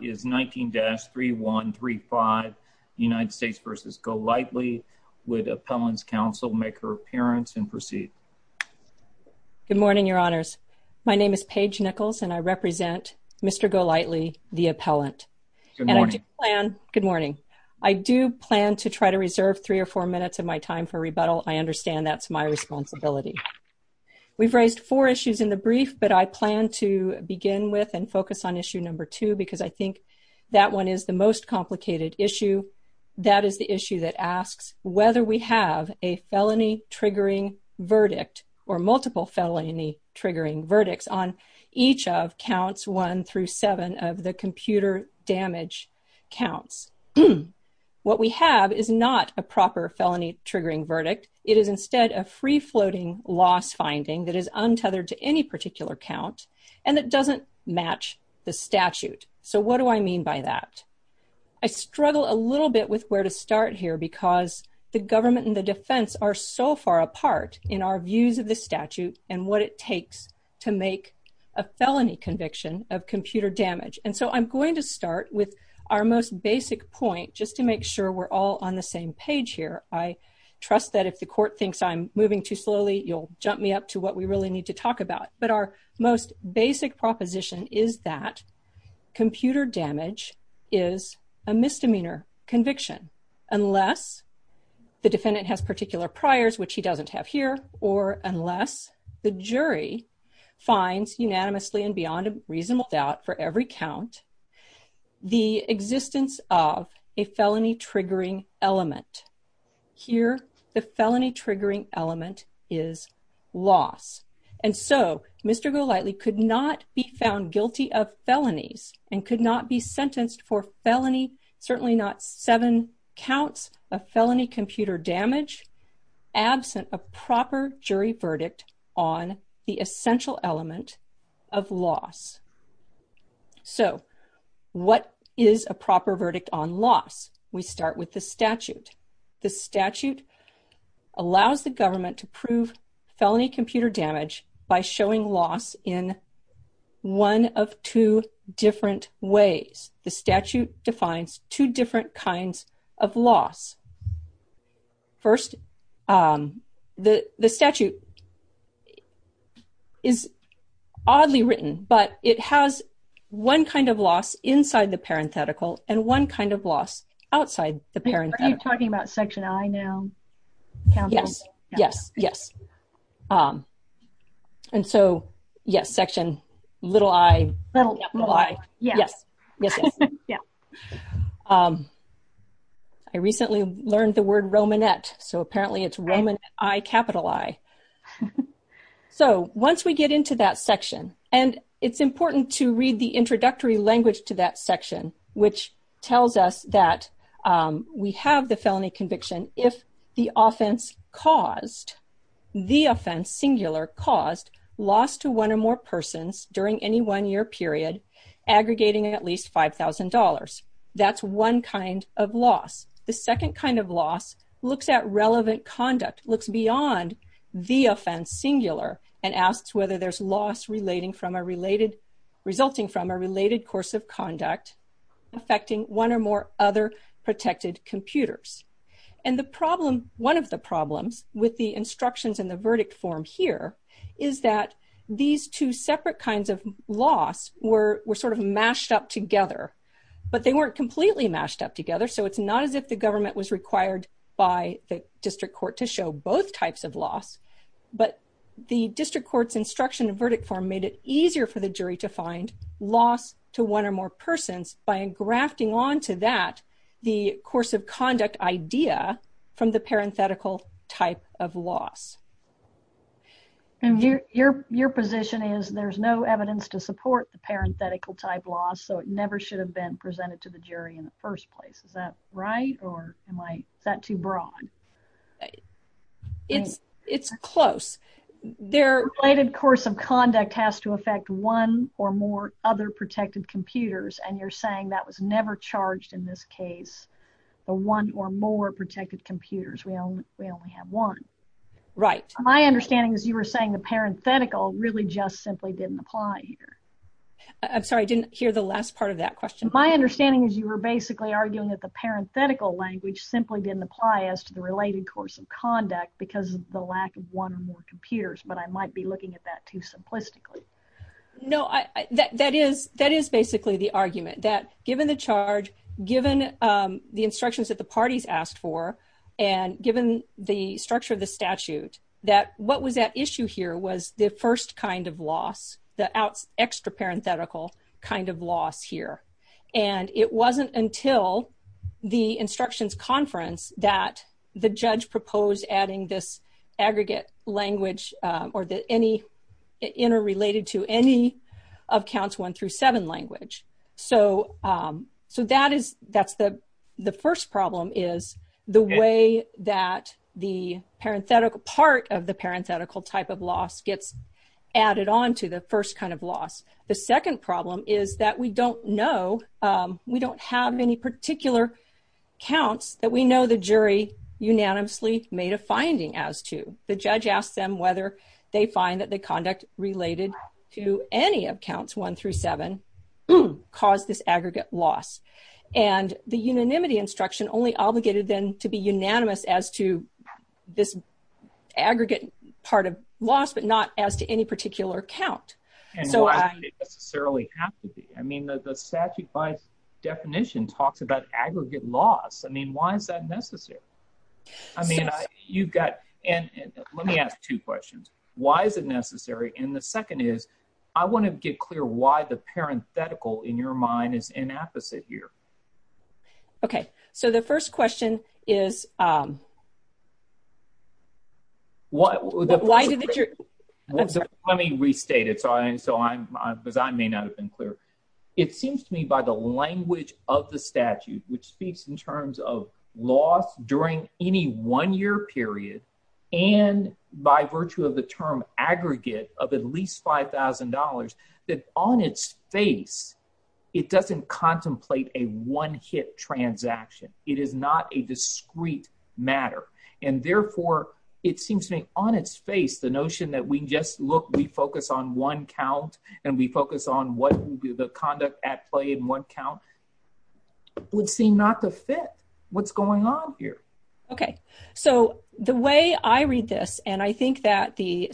is 19-3135 United States v. Golightley. Would Appellant's Counsel make her appearance and proceed? Good morning, Your Honors. My name is Paige Nichols and I represent Mr. Golightley, the Appellant. Good morning. Good morning. I do plan to try to reserve three or four minutes of my time for rebuttal. I understand that's my responsibility. We've raised four issues in brief but I plan to begin with and focus on issue number two because I think that one is the most complicated issue. That is the issue that asks whether we have a felony triggering verdict or multiple felony triggering verdicts on each of counts one through seven of the computer damage counts. What we have is not a proper felony triggering verdict. It is instead a free-floating loss finding that is untethered to any particular count and that doesn't match the statute. So what do I mean by that? I struggle a little bit with where to start here because the government and the defense are so far apart in our views of the statute and what it takes to make a felony conviction of computer damage. And so I'm going to start with our most basic point just to make we're all on the same page here. I trust that if the court thinks I'm moving too slowly you'll jump me up to what we really need to talk about. But our most basic proposition is that computer damage is a misdemeanor conviction unless the defendant has particular priors which he doesn't have here or unless the jury finds unanimously and beyond a reasonable doubt for every count the existence of a felony triggering element. Here the felony triggering element is loss. And so Mr. Golightly could not be found guilty of felonies and could not be sentenced for felony certainly not seven counts of felony computer damage absent a proper jury verdict on the What is a proper verdict on loss? We start with the statute. The statute allows the government to prove felony computer damage by showing loss in one of two different ways. The statute defines two different kinds of loss. First the statute is oddly written but it has one kind of loss inside the parenthetical and one kind of loss outside the parenthetical. Are you talking about section I now? Yes, yes, yes. And so yes section little I. Little I. Yes, yes, yes. I recently learned the word Romanet so apparently it's Roman I capital I. So once we get into that section and it's important to read the introductory language to that section which tells us that we have the felony conviction if the offense caused the offense singular caused loss to one or more persons during any one-year period aggregating at least five thousand dollars. That's one kind of loss. The second kind of loss looks at relevant conduct looks beyond the offense singular and asks whether there's loss resulting from a related course of conduct affecting one or more other protected computers. And the problem one of the problems with the instructions in the verdict form here is that these two separate kinds of loss were were sort of mashed up together but they weren't completely mashed up together so it's not as if the government was required by the district court to show both types of loss but the district court's instruction and verdict form made it easier for the jury to find loss to one or more persons by engrafting onto that the course of conduct idea from the parenthetical type of loss. And your your position is there's no evidence to support the parenthetical type loss so it never should have been presented to the jury in the first place. Is that right or am I is that too broad? It's it's close. Their related course of conduct has to affect one or more other protected computers and you're saying that was never charged in this case the one or more protected computers we only we only have one. Right. My understanding is you were saying the parenthetical really just simply didn't apply here. I'm sorry I didn't hear the last part of that question. My understanding is you were basically arguing that the parenthetical language simply didn't apply as to the related course of conduct because of the lack of one or more computers but I might be looking at that too simplistically. No I that that is that is basically the argument that given the charge given the instructions that the parties asked for and given the structure of the statute that what was that issue here was the first kind of loss the extra parenthetical kind of loss here and it wasn't until the instructions conference that the judge proposed adding this aggregate language or that any interrelated to any of counts one through seven language. So that is that's the the first problem is the way that the parenthetical part of the parenthetical type of loss gets added on to the first kind of loss. The second problem is that we don't know we don't have any particular counts that we know the jury unanimously made a finding as to the judge asked them whether they find that the conduct related to any of counts one through seven caused this aggregate loss and the unanimity instruction only obligated them to be unanimous as to this aggregate part of loss but not as to any particular count. And why does it necessarily have to be? I mean the statute by definition talks about aggregate loss. I mean why is that necessary? I mean you've got and let me ask two questions. Why is it necessary and the second is I want to get clear why the parenthetical in your mind is inapposite here. Okay so the first question is why why did the jury let me restate it so I and so I'm because I may not have been clear. It seems to me by the language of the statute which speaks in terms of loss during any one period and by virtue of the term aggregate of at least $5,000 that on its face it doesn't contemplate a one-hit transaction. It is not a discrete matter and therefore it seems to me on its face the notion that we just look we focus on one count and we focus on what would be the the way I read this and I think that the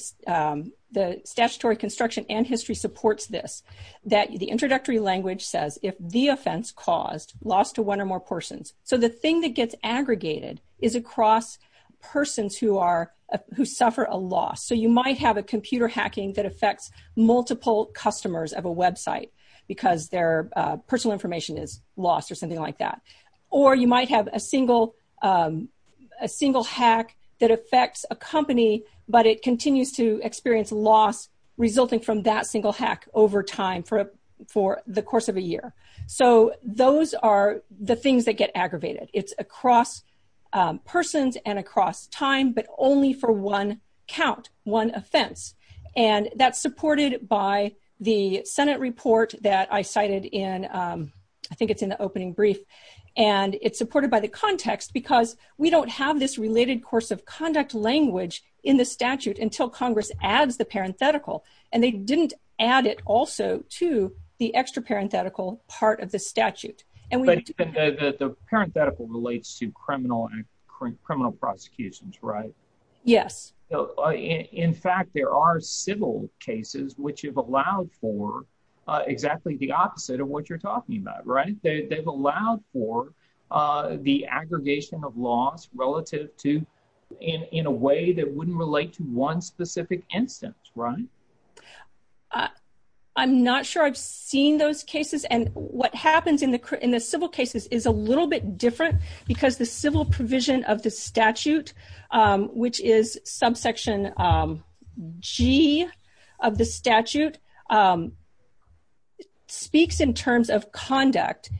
the statutory construction and history supports this that the introductory language says if the offense caused loss to one or more persons. So the thing that gets aggregated is across persons who are who suffer a loss. So you might have a computer hacking that affects multiple customers of a website because their personal information is something like that or you might have a single a single hack that affects a company but it continues to experience loss resulting from that single hack over time for for the course of a year. So those are the things that get aggravated. It's across persons and across time but only for one count one offense and that's supported by the senate report that I cited in I think it's the opening brief and it's supported by the context because we don't have this related course of conduct language in the statute until congress adds the parenthetical and they didn't add it also to the extra parenthetical part of the statute. But the parenthetical relates to criminal and criminal prosecutions right? Yes. So in fact there are civil cases which have allowed for exactly the opposite of what you're talking about right? They've allowed for the aggregation of loss relative to in in a way that wouldn't relate to one specific instance right? I'm not sure I've seen those cases and what happens in the in the civil cases is a little bit different because the civil provision of the statute which is subsection g of the statute speaks in terms of conduct.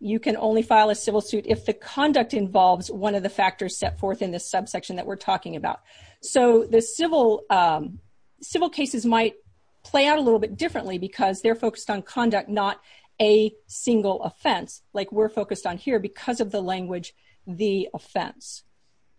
You can only file a civil suit if the conduct involves one of the factors set forth in this subsection that we're talking about. So the civil civil cases might play out a little bit differently because they're focused on conduct not a single offense like we're the offense.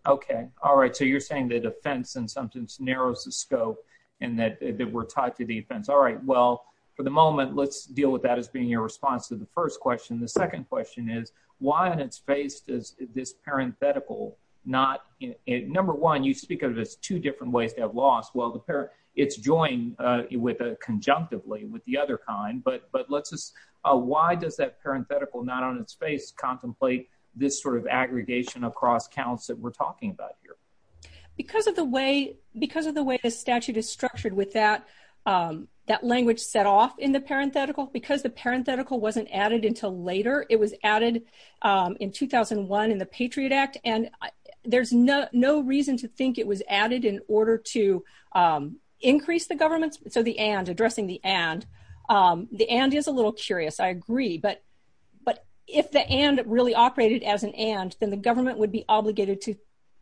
Okay all right so you're saying that offense and sometimes narrows the scope and that we're tied to the offense. All right well for the moment let's deal with that as being your response to the first question. The second question is why on its face does this parenthetical not number one you speak of this two different ways to have loss well the pair it's joined with conjunctively with the other kind but but let's just uh why does that parenthetical not on its contemplate this sort of aggregation across counts that we're talking about here because of the way because of the way the statute is structured with that um that language set off in the parenthetical because the parenthetical wasn't added until later it was added um in 2001 in the patriot act and there's no no reason to think it was added in order to um increase the government so the and addressing the and um the and is a little curious i agree but but if the and really operated as an and then the government would be obligated to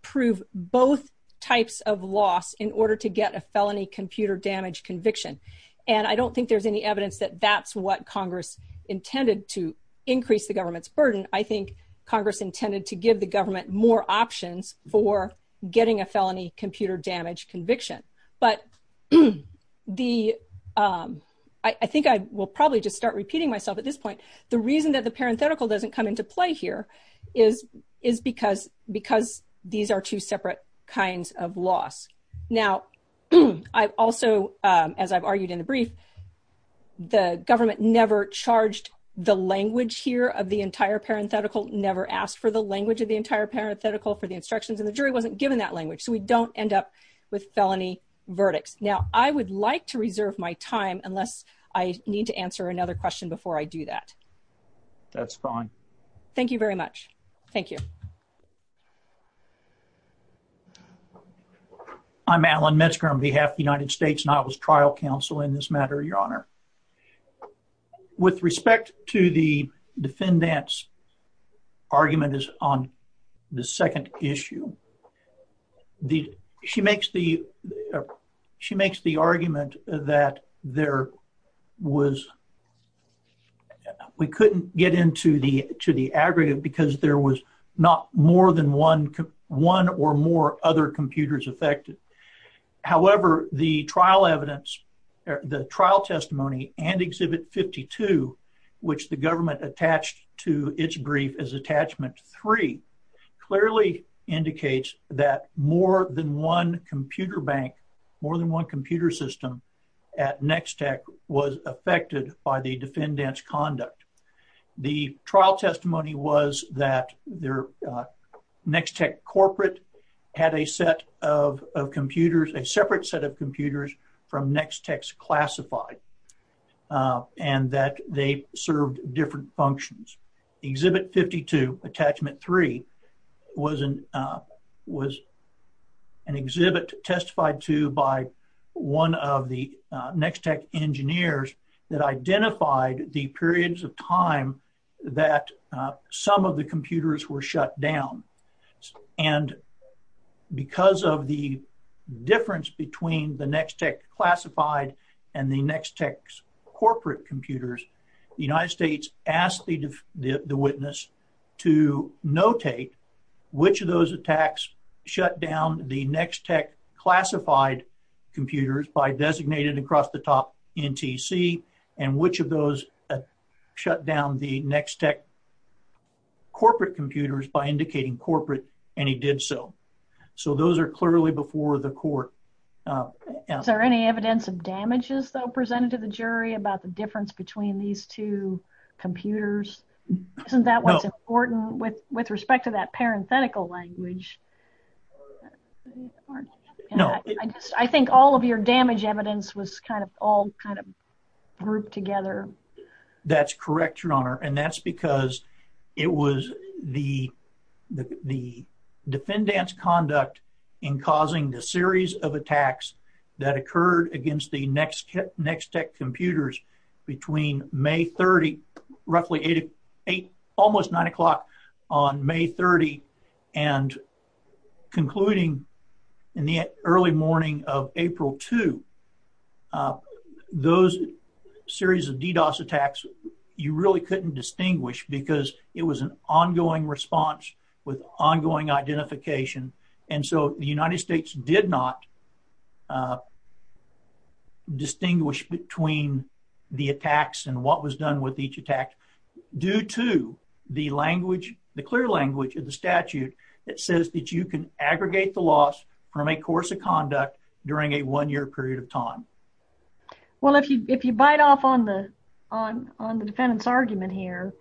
prove both types of loss in order to get a felony computer damage conviction and i don't think there's any evidence that that's what congress intended to increase the government's burden i think congress intended to give the um i think i will probably just start repeating myself at this point the reason that the parenthetical doesn't come into play here is is because because these are two separate kinds of loss now i've also um as i've argued in the brief the government never charged the language here of the entire parenthetical never asked for the language of the entire parenthetical for the instructions and the jury wasn't given that language so we don't end up with felony verdicts i would like to reserve my time unless i need to answer another question before i do that that's fine thank you very much thank you i'm alan metzger on behalf of the united states and i was trial counsel in this matter your honor with respect to the defendant's argument is on the second issue the she makes the she makes the argument that there was we couldn't get into the to the aggregate because there was not more than one one or more other computers affected however the trial evidence the trial testimony and exhibit 52 which the that more than one computer bank more than one computer system at next tech was affected by the defendant's conduct the trial testimony was that their next tech corporate had a set of computers a separate set of computers from next text classified and that they served different functions exhibit 52 attachment three was an uh was an exhibit testified to by one of the next tech engineers that identified the periods of time that some of the computers were shut down and because of the difference between the next tech classified and the next corporate computers the united states asked the witness to notate which of those attacks shut down the next tech classified computers by designated across the top ntc and which of those shut down the next tech corporate computers by indicating corporate and he did so so those are clearly before the court is there any evidence of damages though presented to the jury about the difference between these two computers isn't that what's important with with respect to that parenthetical language i just i think all of your damage evidence was kind of all kind of grouped together that's correct your honor and that's because it was the the defendant's conduct in causing the series of attacks that occurred against the next next tech computers between may 30 roughly eight eight almost nine o'clock on may 30 and concluding in the early morning of april 2 those series of ddos attacks you really couldn't distinguish because it was an ongoing response with ongoing identification and so the united states did not distinguish between the attacks and what was done with each attack due to the language the clear language of the statute that says that you can aggregate the loss from a course of conduct during a one-year period of time well if you if you bite off on the on on the defendant's argument here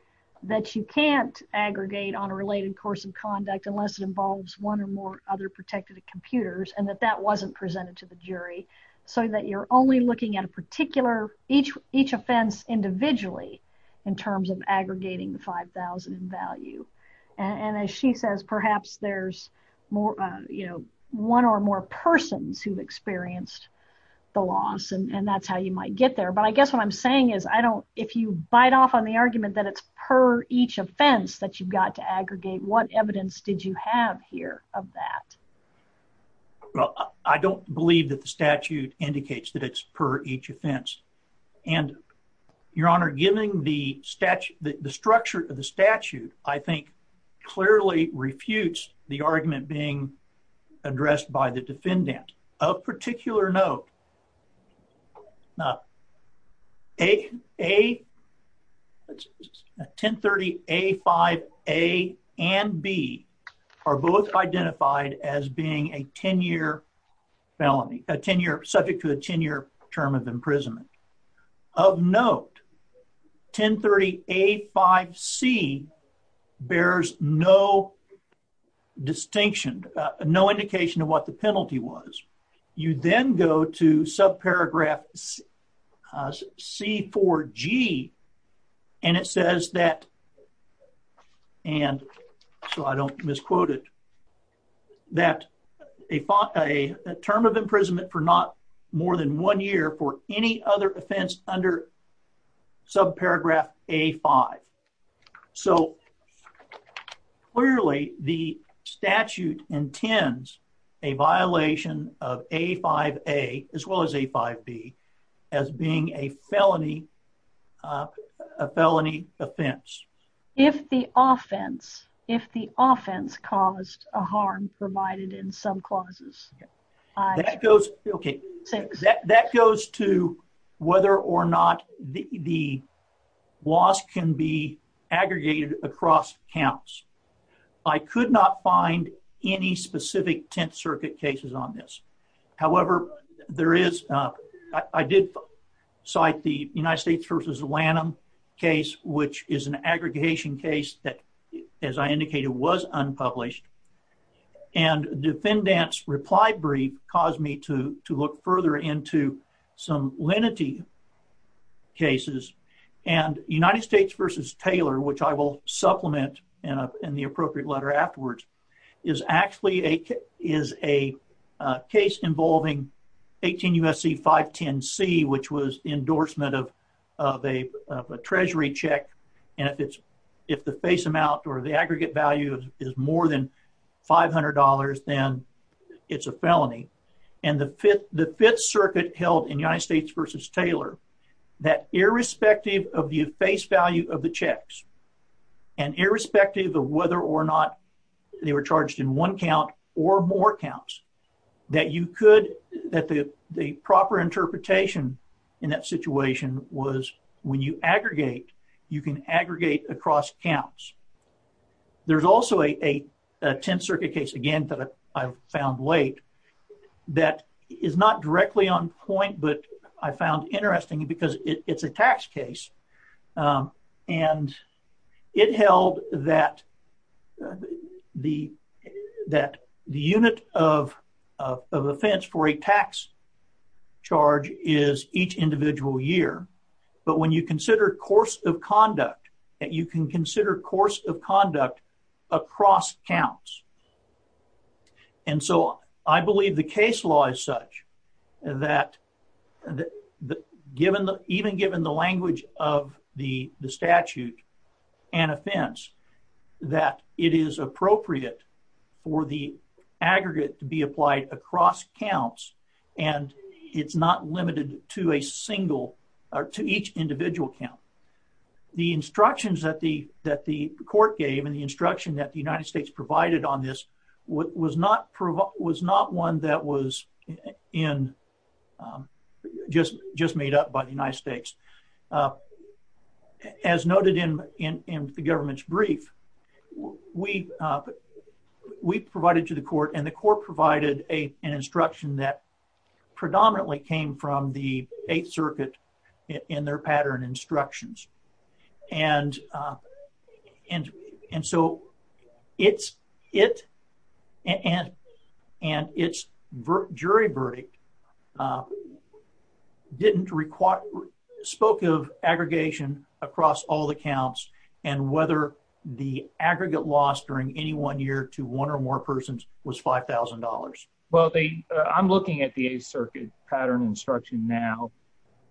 that you can't aggregate on a related course of conduct unless it involves one or more other protected computers and that that wasn't presented to the jury so that you're only looking at a particular each each offense individually in terms of aggregating the 5000 in value and as she says perhaps there's more you know one or more persons who've experienced the loss and that's how you might get there but i guess what i'm saying is i don't if you bite off on the argument that it's per each offense that you've got to aggregate what evidence did you have here of that well i don't believe that the statute indicates that it's per each offense and your honor giving the statute the structure of the statute i think clearly refutes the argument being addressed by the defendant of particular note now a a 10 30 a 5 a and b are both identified as being a 10-year felony a 10-year subject to a 10-year term of imprisonment of note 10 30 a 5 c bears no distinction no indication of what the penalty was you then go to subparagraph c 4 g and it says that and so i don't misquote it that a thought a term of imprisonment for not more than one year for any other offense under subparagraph a 5 so clearly the statute intends a violation of a 5 a as well as a 5 b as being a felony uh a felony offense if the offense if the offense caused a harm provided in some clauses that goes okay that that goes to whether or not the the laws can be aggregated across counts i could not find any specific 10th circuit cases on this however there is uh i did cite the united states versus lanham case which is an aggregation case that as i indicated was unpublished and defendant's reply brief caused me to to look further into some lenity cases and united states versus taylor which i will supplement and in the appropriate letter afterwards is actually a is a case involving 18 usc 5 10 c which was endorsement of of a of a treasury check and if it's if the face amount or the aggregate value is more than 500 then it's a felony and the fifth the fifth circuit held in united states versus taylor that irrespective of the face value of the checks and irrespective of whether or not they were charged in one count or more counts that you could that the the proper interpretation in that situation was when you aggregate you can aggregate across counts there's also a a 10th circuit case again that i found late that is not directly on and it held that the that the unit of of offense for a tax charge is each individual year but when you consider course of conduct that you can consider course of conduct across counts and so i believe the case law is such that the given the even given the language of the the statute and offense that it is appropriate for the aggregate to be applied across counts and it's not limited to a single or to each individual count the instructions that the that the court gave and the instruction that the united states provided on this what was not prov was not one that was in just just made up by the united states as noted in in in the government's brief we uh we provided to the court and the court provided a an instruction that predominantly came from the eighth circuit in their pattern instructions and uh and and so it's it and and its jury verdict uh didn't require spoke of aggregation across all the counts and whether the aggregate loss during any one year to one or more persons was five thousand dollars well they i'm looking at the eighth circuit pattern instruction now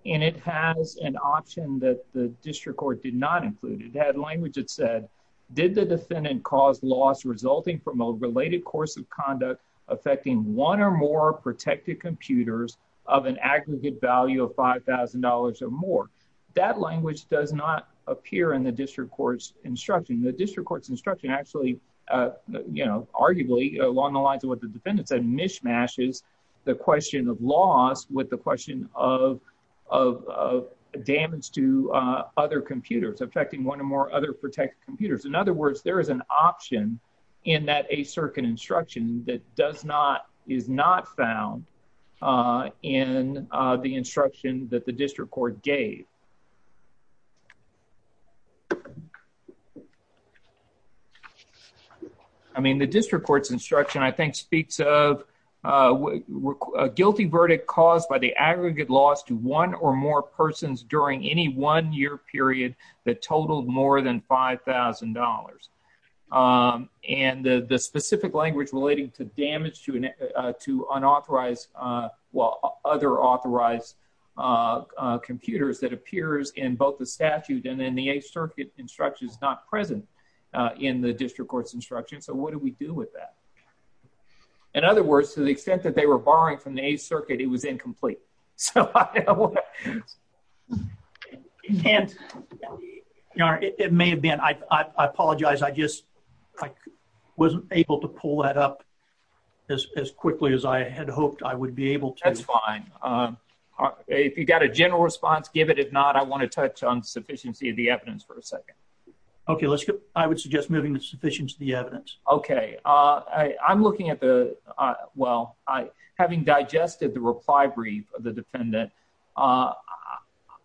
and it has an option that the district court did not include it had language it said did the defendant cause loss resulting from a related course of conduct affecting one or more protected computers of an aggregate value of five thousand dollars or more that language does not appear in the district court's instruction the district court's instruction actually uh you know arguably along the lines of what the defendant said mishmash is the question of loss with the question of of of damage to uh other computers affecting one or more other protected computers in other words there is an option in that a circuit instruction that does not is not found uh in the instruction that the district court gave i mean the district court's instruction i think speaks of uh a guilty verdict caused by the aggregate loss to one or more persons during any one year period that totaled more than five thousand dollars um and the the specific language relating to damage to an to unauthorized uh well other authorized uh computers that appears in both the statute and then the eighth circuit instruction is not present uh in the district court's instruction so what do we do with that in other words to the extent that they were borrowing from the circuit it was incomplete so i can't it may have been i i apologize i just i wasn't able to pull that up as as quickly as i had hoped i would be able to that's fine um if you got a general response give it if not i want to touch on sufficiency of the evidence for a second okay let's get i would suggest moving the sufficient to the evidence okay uh i i'm reply brief of the defendant uh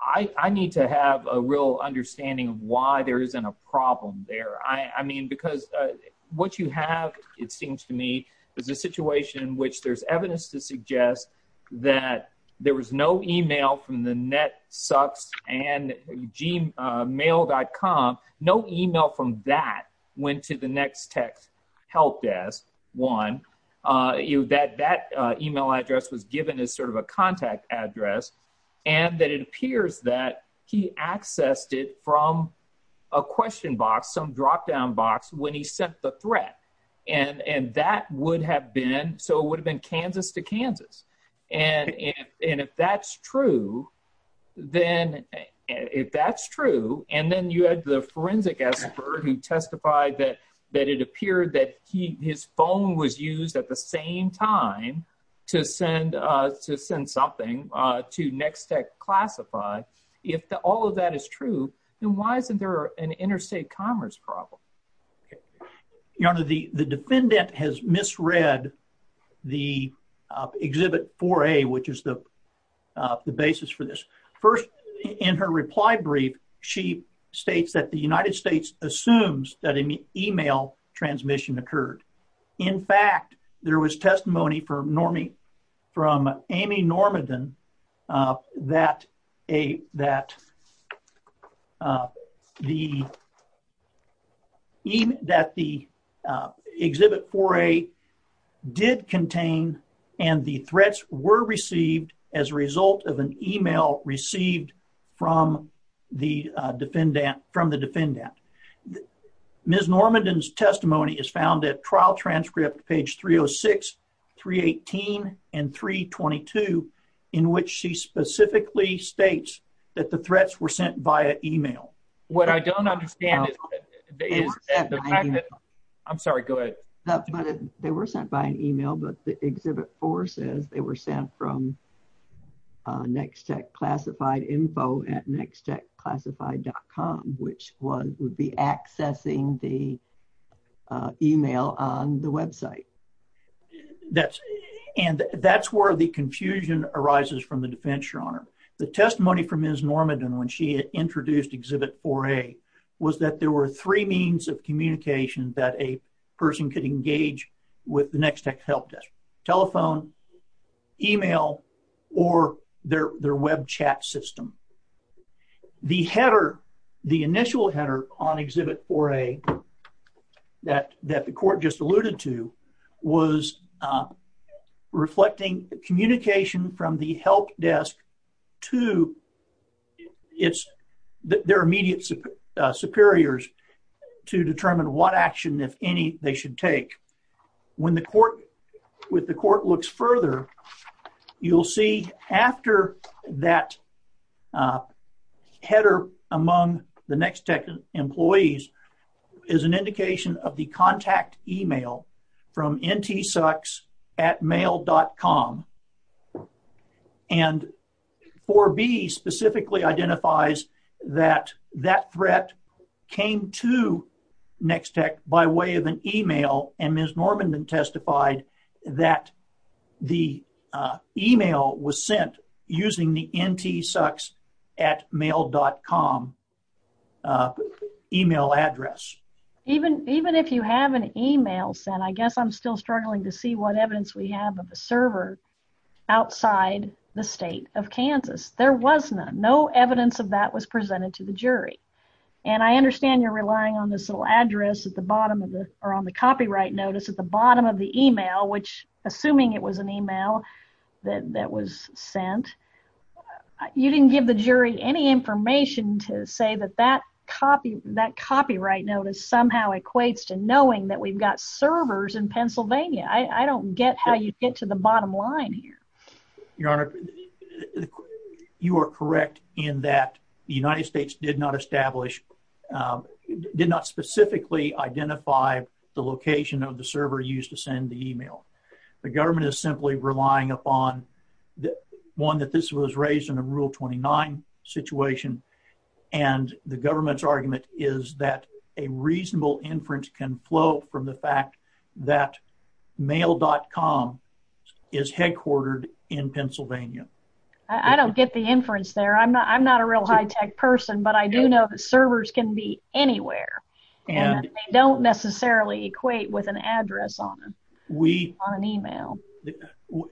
i i need to have a real understanding of why there isn't a problem there i i mean because uh what you have it seems to me is a situation in which there's evidence to suggest that there was no email from the net sucks and gmail.com no email from that went to the next text help desk one uh you that that uh email address was given as sort of a contact address and that it appears that he accessed it from a question box some drop down box when he sent the threat and and that would have been so it would have been kansas to kansas and and if that's true then if that's true and then you had the forensic expert who testified that that it appeared that he his phone was used at the same time to send uh to send something uh to nextec classify if all of that is true then why isn't there an interstate commerce problem you know the the defendant has misread the exhibit 4a which is the uh the basis for this first in her reply brief she states that the united states assumes that an email transmission occurred in fact there was testimony for normie from amy normandan uh that a that uh the even that the uh exhibit 4a did contain and the threats were received as a result of an email received from the defendant from the defendant ms normandan's testimony is found at that the threats were sent via email what i don't understand is i'm sorry go ahead but they were sent by an email but the exhibit 4 says they were sent from uh nextec classified info at nextec classified.com which one would be accessing the email on the website that's and that's where the confusion arises from the defense your honor the testimony from ms normandan when she introduced exhibit 4a was that there were three means of communication that a person could engage with the nextec help desk telephone email or their their web chat system the header the initial header on exhibit 4a that that the court just to it's their immediate superiors to determine what action if any they should take when the court with the court looks further you'll see after that header among the nextec employees is an indication of the contact email from ntsucks at mail.com and 4b specifically identifies that that threat came to nextec by way of an email and ms normandan testified that the email was sent using the ntsucks at mail.com email address even even if you have an email sent i guess i'm still struggling to see what evidence we have of a server outside the state of kansas there was none no evidence of that was presented to the jury and i understand you're relying on this little address at the bottom of the or on the copyright notice at the bottom of the email which assuming it was an email that that was sent you didn't give the jury any information to say that that copy that copyright notice somehow equates to knowing that we've got servers in pennsylvania i i don't get how you get to the bottom line here your honor you are correct in that the united states did not establish did not specifically identify the location of the server used to send the email the government is simply relying upon the one that this was raised in a rule 29 situation and the government's inference can flow from the fact that mail.com is headquartered in pennsylvania i don't get the inference there i'm not i'm not a real high tech person but i do know that servers can be anywhere and they don't necessarily equate with an address on we on an email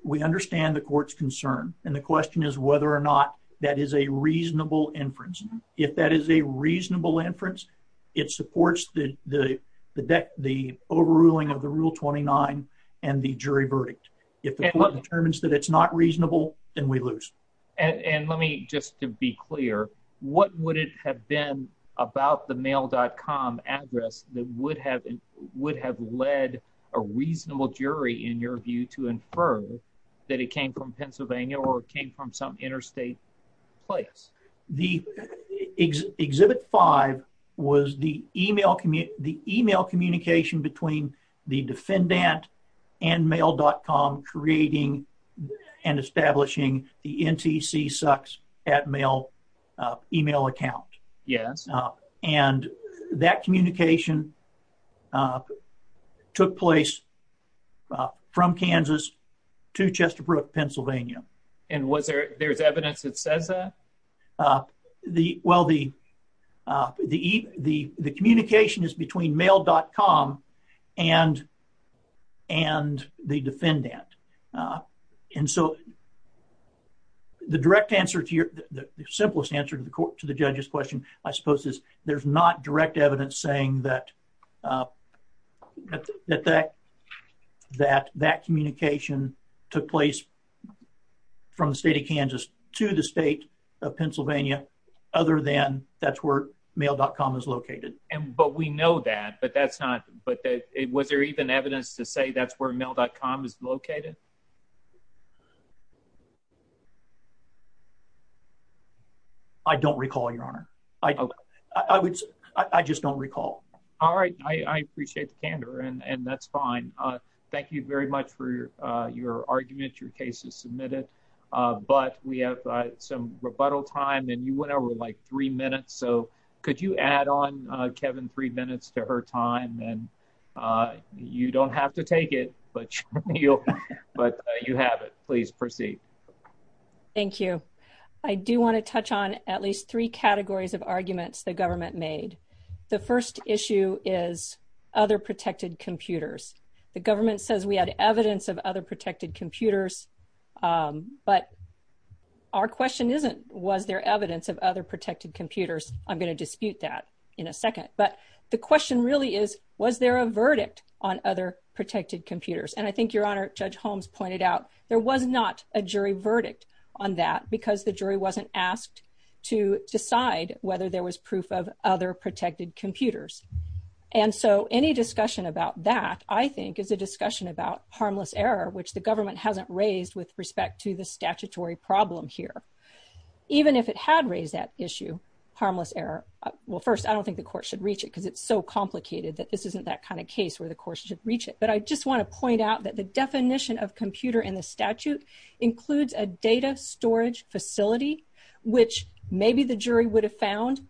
we understand the court's concern and the question is whether or not that is a reasonable inference if that is a the deck the overruling of the rule 29 and the jury verdict if the court determines that it's not reasonable then we lose and and let me just to be clear what would it have been about the mail.com address that would have would have led a reasonable jury in your view to infer that it came from pennsylvania or came from some interstate place the exhibit five was the email the email communication between the defendant and mail.com creating and establishing the ntc sucks at mail email account yes and that communication took place from kansas to chester brook pennsylvania and was there there's evidence that says that the well the the e the the communication is between mail.com and and the defendant and so the direct answer to your the simplest answer to the court to the judge's question i suppose is there's not direct evidence saying that that that that that communication took place from the state of kansas to the state of pennsylvania other than that's where mail.com is located and but we know that but that's not but that it was there even evidence to say that's where mail.com is located i don't recall your honor i i would i i just don't recall all right i i appreciate the candor and and that's fine uh thank you very much for your uh your argument your case is submitted uh but we have uh some rebuttal time and you went over like three minutes so could you add on uh kevin three minutes to her time and uh you don't have to take it but but you have it please proceed thank you i do want to touch on at least three categories of other protected computers the government says we had evidence of other protected computers but our question isn't was there evidence of other protected computers i'm going to dispute that in a second but the question really is was there a verdict on other protected computers and i think your honor judge holmes pointed out there was not a jury verdict on that because the jury wasn't asked to decide whether there was proof of other protected computers and so any discussion about that i think is a discussion about harmless error which the government hasn't raised with respect to the statutory problem here even if it had raised that issue harmless error well first i don't think the court should reach it because it's so complicated that this isn't that kind of case where the course should reach it but i just want to point out that the definition of computer in a data storage facility which maybe the jury would have found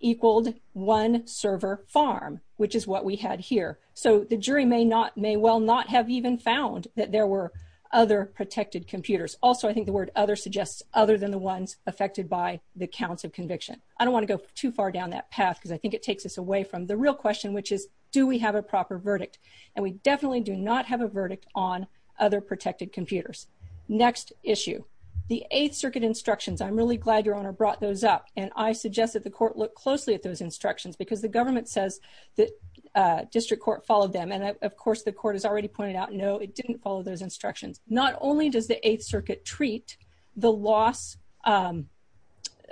equaled one server farm which is what we had here so the jury may not may well not have even found that there were other protected computers also i think the word other suggests other than the ones affected by the counts of conviction i don't want to go too far down that path because i think it takes us away from the real question which is do we have a proper verdict and we definitely do not have a verdict on other protected computers next issue the eighth circuit instructions i'm really glad your honor brought those up and i suggest that the court look closely at those instructions because the government says that uh district court followed them and of course the court has already pointed out no it didn't follow those instructions not only does the eighth circuit treat the loss um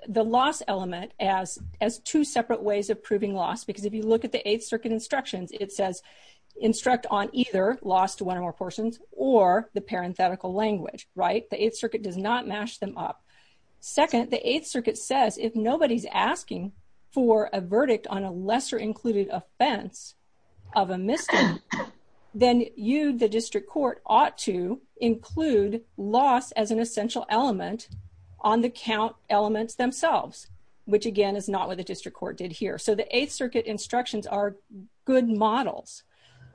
the loss element as as two separate ways of proving loss because if you look at the eighth circuit instructions it says instruct on either lost one or more portions or the parenthetical language right the eighth circuit does not mash them up second the eighth circuit says if nobody's asking for a verdict on a lesser included offense of a mystery then you the district court ought to include loss as an essential element on the count elements themselves which again is not what the district court did here so the eighth circuit instructions are good models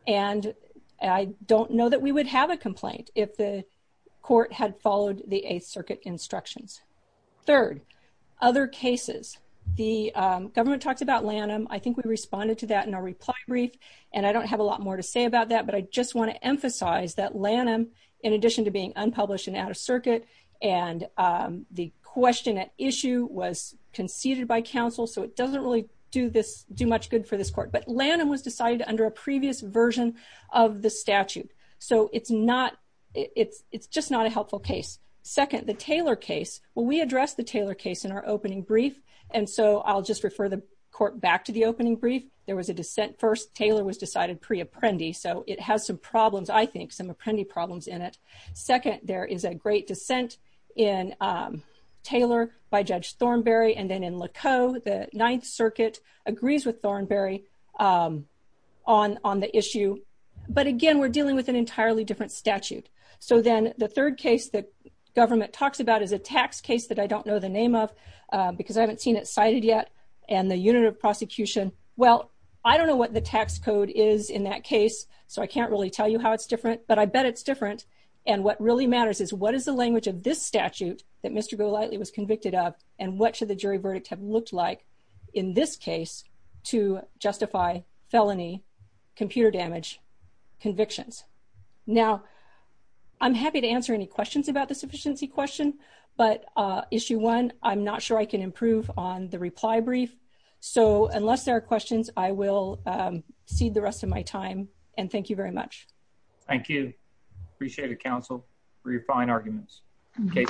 and i don't know that we would have a complaint if the court had followed the eighth circuit instructions third other cases the government talks about lanham i think we responded to that in our reply brief and i don't have a lot more to say about that but i just want to emphasize that lanham in addition to being unpublished and and um the question at issue was conceded by council so it doesn't really do this do much good for this court but lanham was decided under a previous version of the statute so it's not it's it's just not a helpful case second the taylor case well we addressed the taylor case in our opening brief and so i'll just refer the court back to the opening brief there was a dissent first taylor was decided pre-apprendi so it has some problems i think some apprendi problems in it second there is a great dissent in um taylor by judge thornberry and then in laco the ninth circuit agrees with thornberry um on on the issue but again we're dealing with an entirely different statute so then the third case that government talks about is a tax case that i don't know the name of because i haven't seen it cited yet and the unit of prosecution well i don't know what the tax code is in that case so i can't really tell you how it's different but i bet it's different and what really matters is what is the language of this statute that mr go lightly was convicted of and what should the jury verdict have looked like in this case to justify felony computer damage convictions now i'm happy to answer any questions about the sufficiency question but uh issue one i'm not sure i can improve on the reply brief so unless there are questions i will um cede the council for your fine arguments okay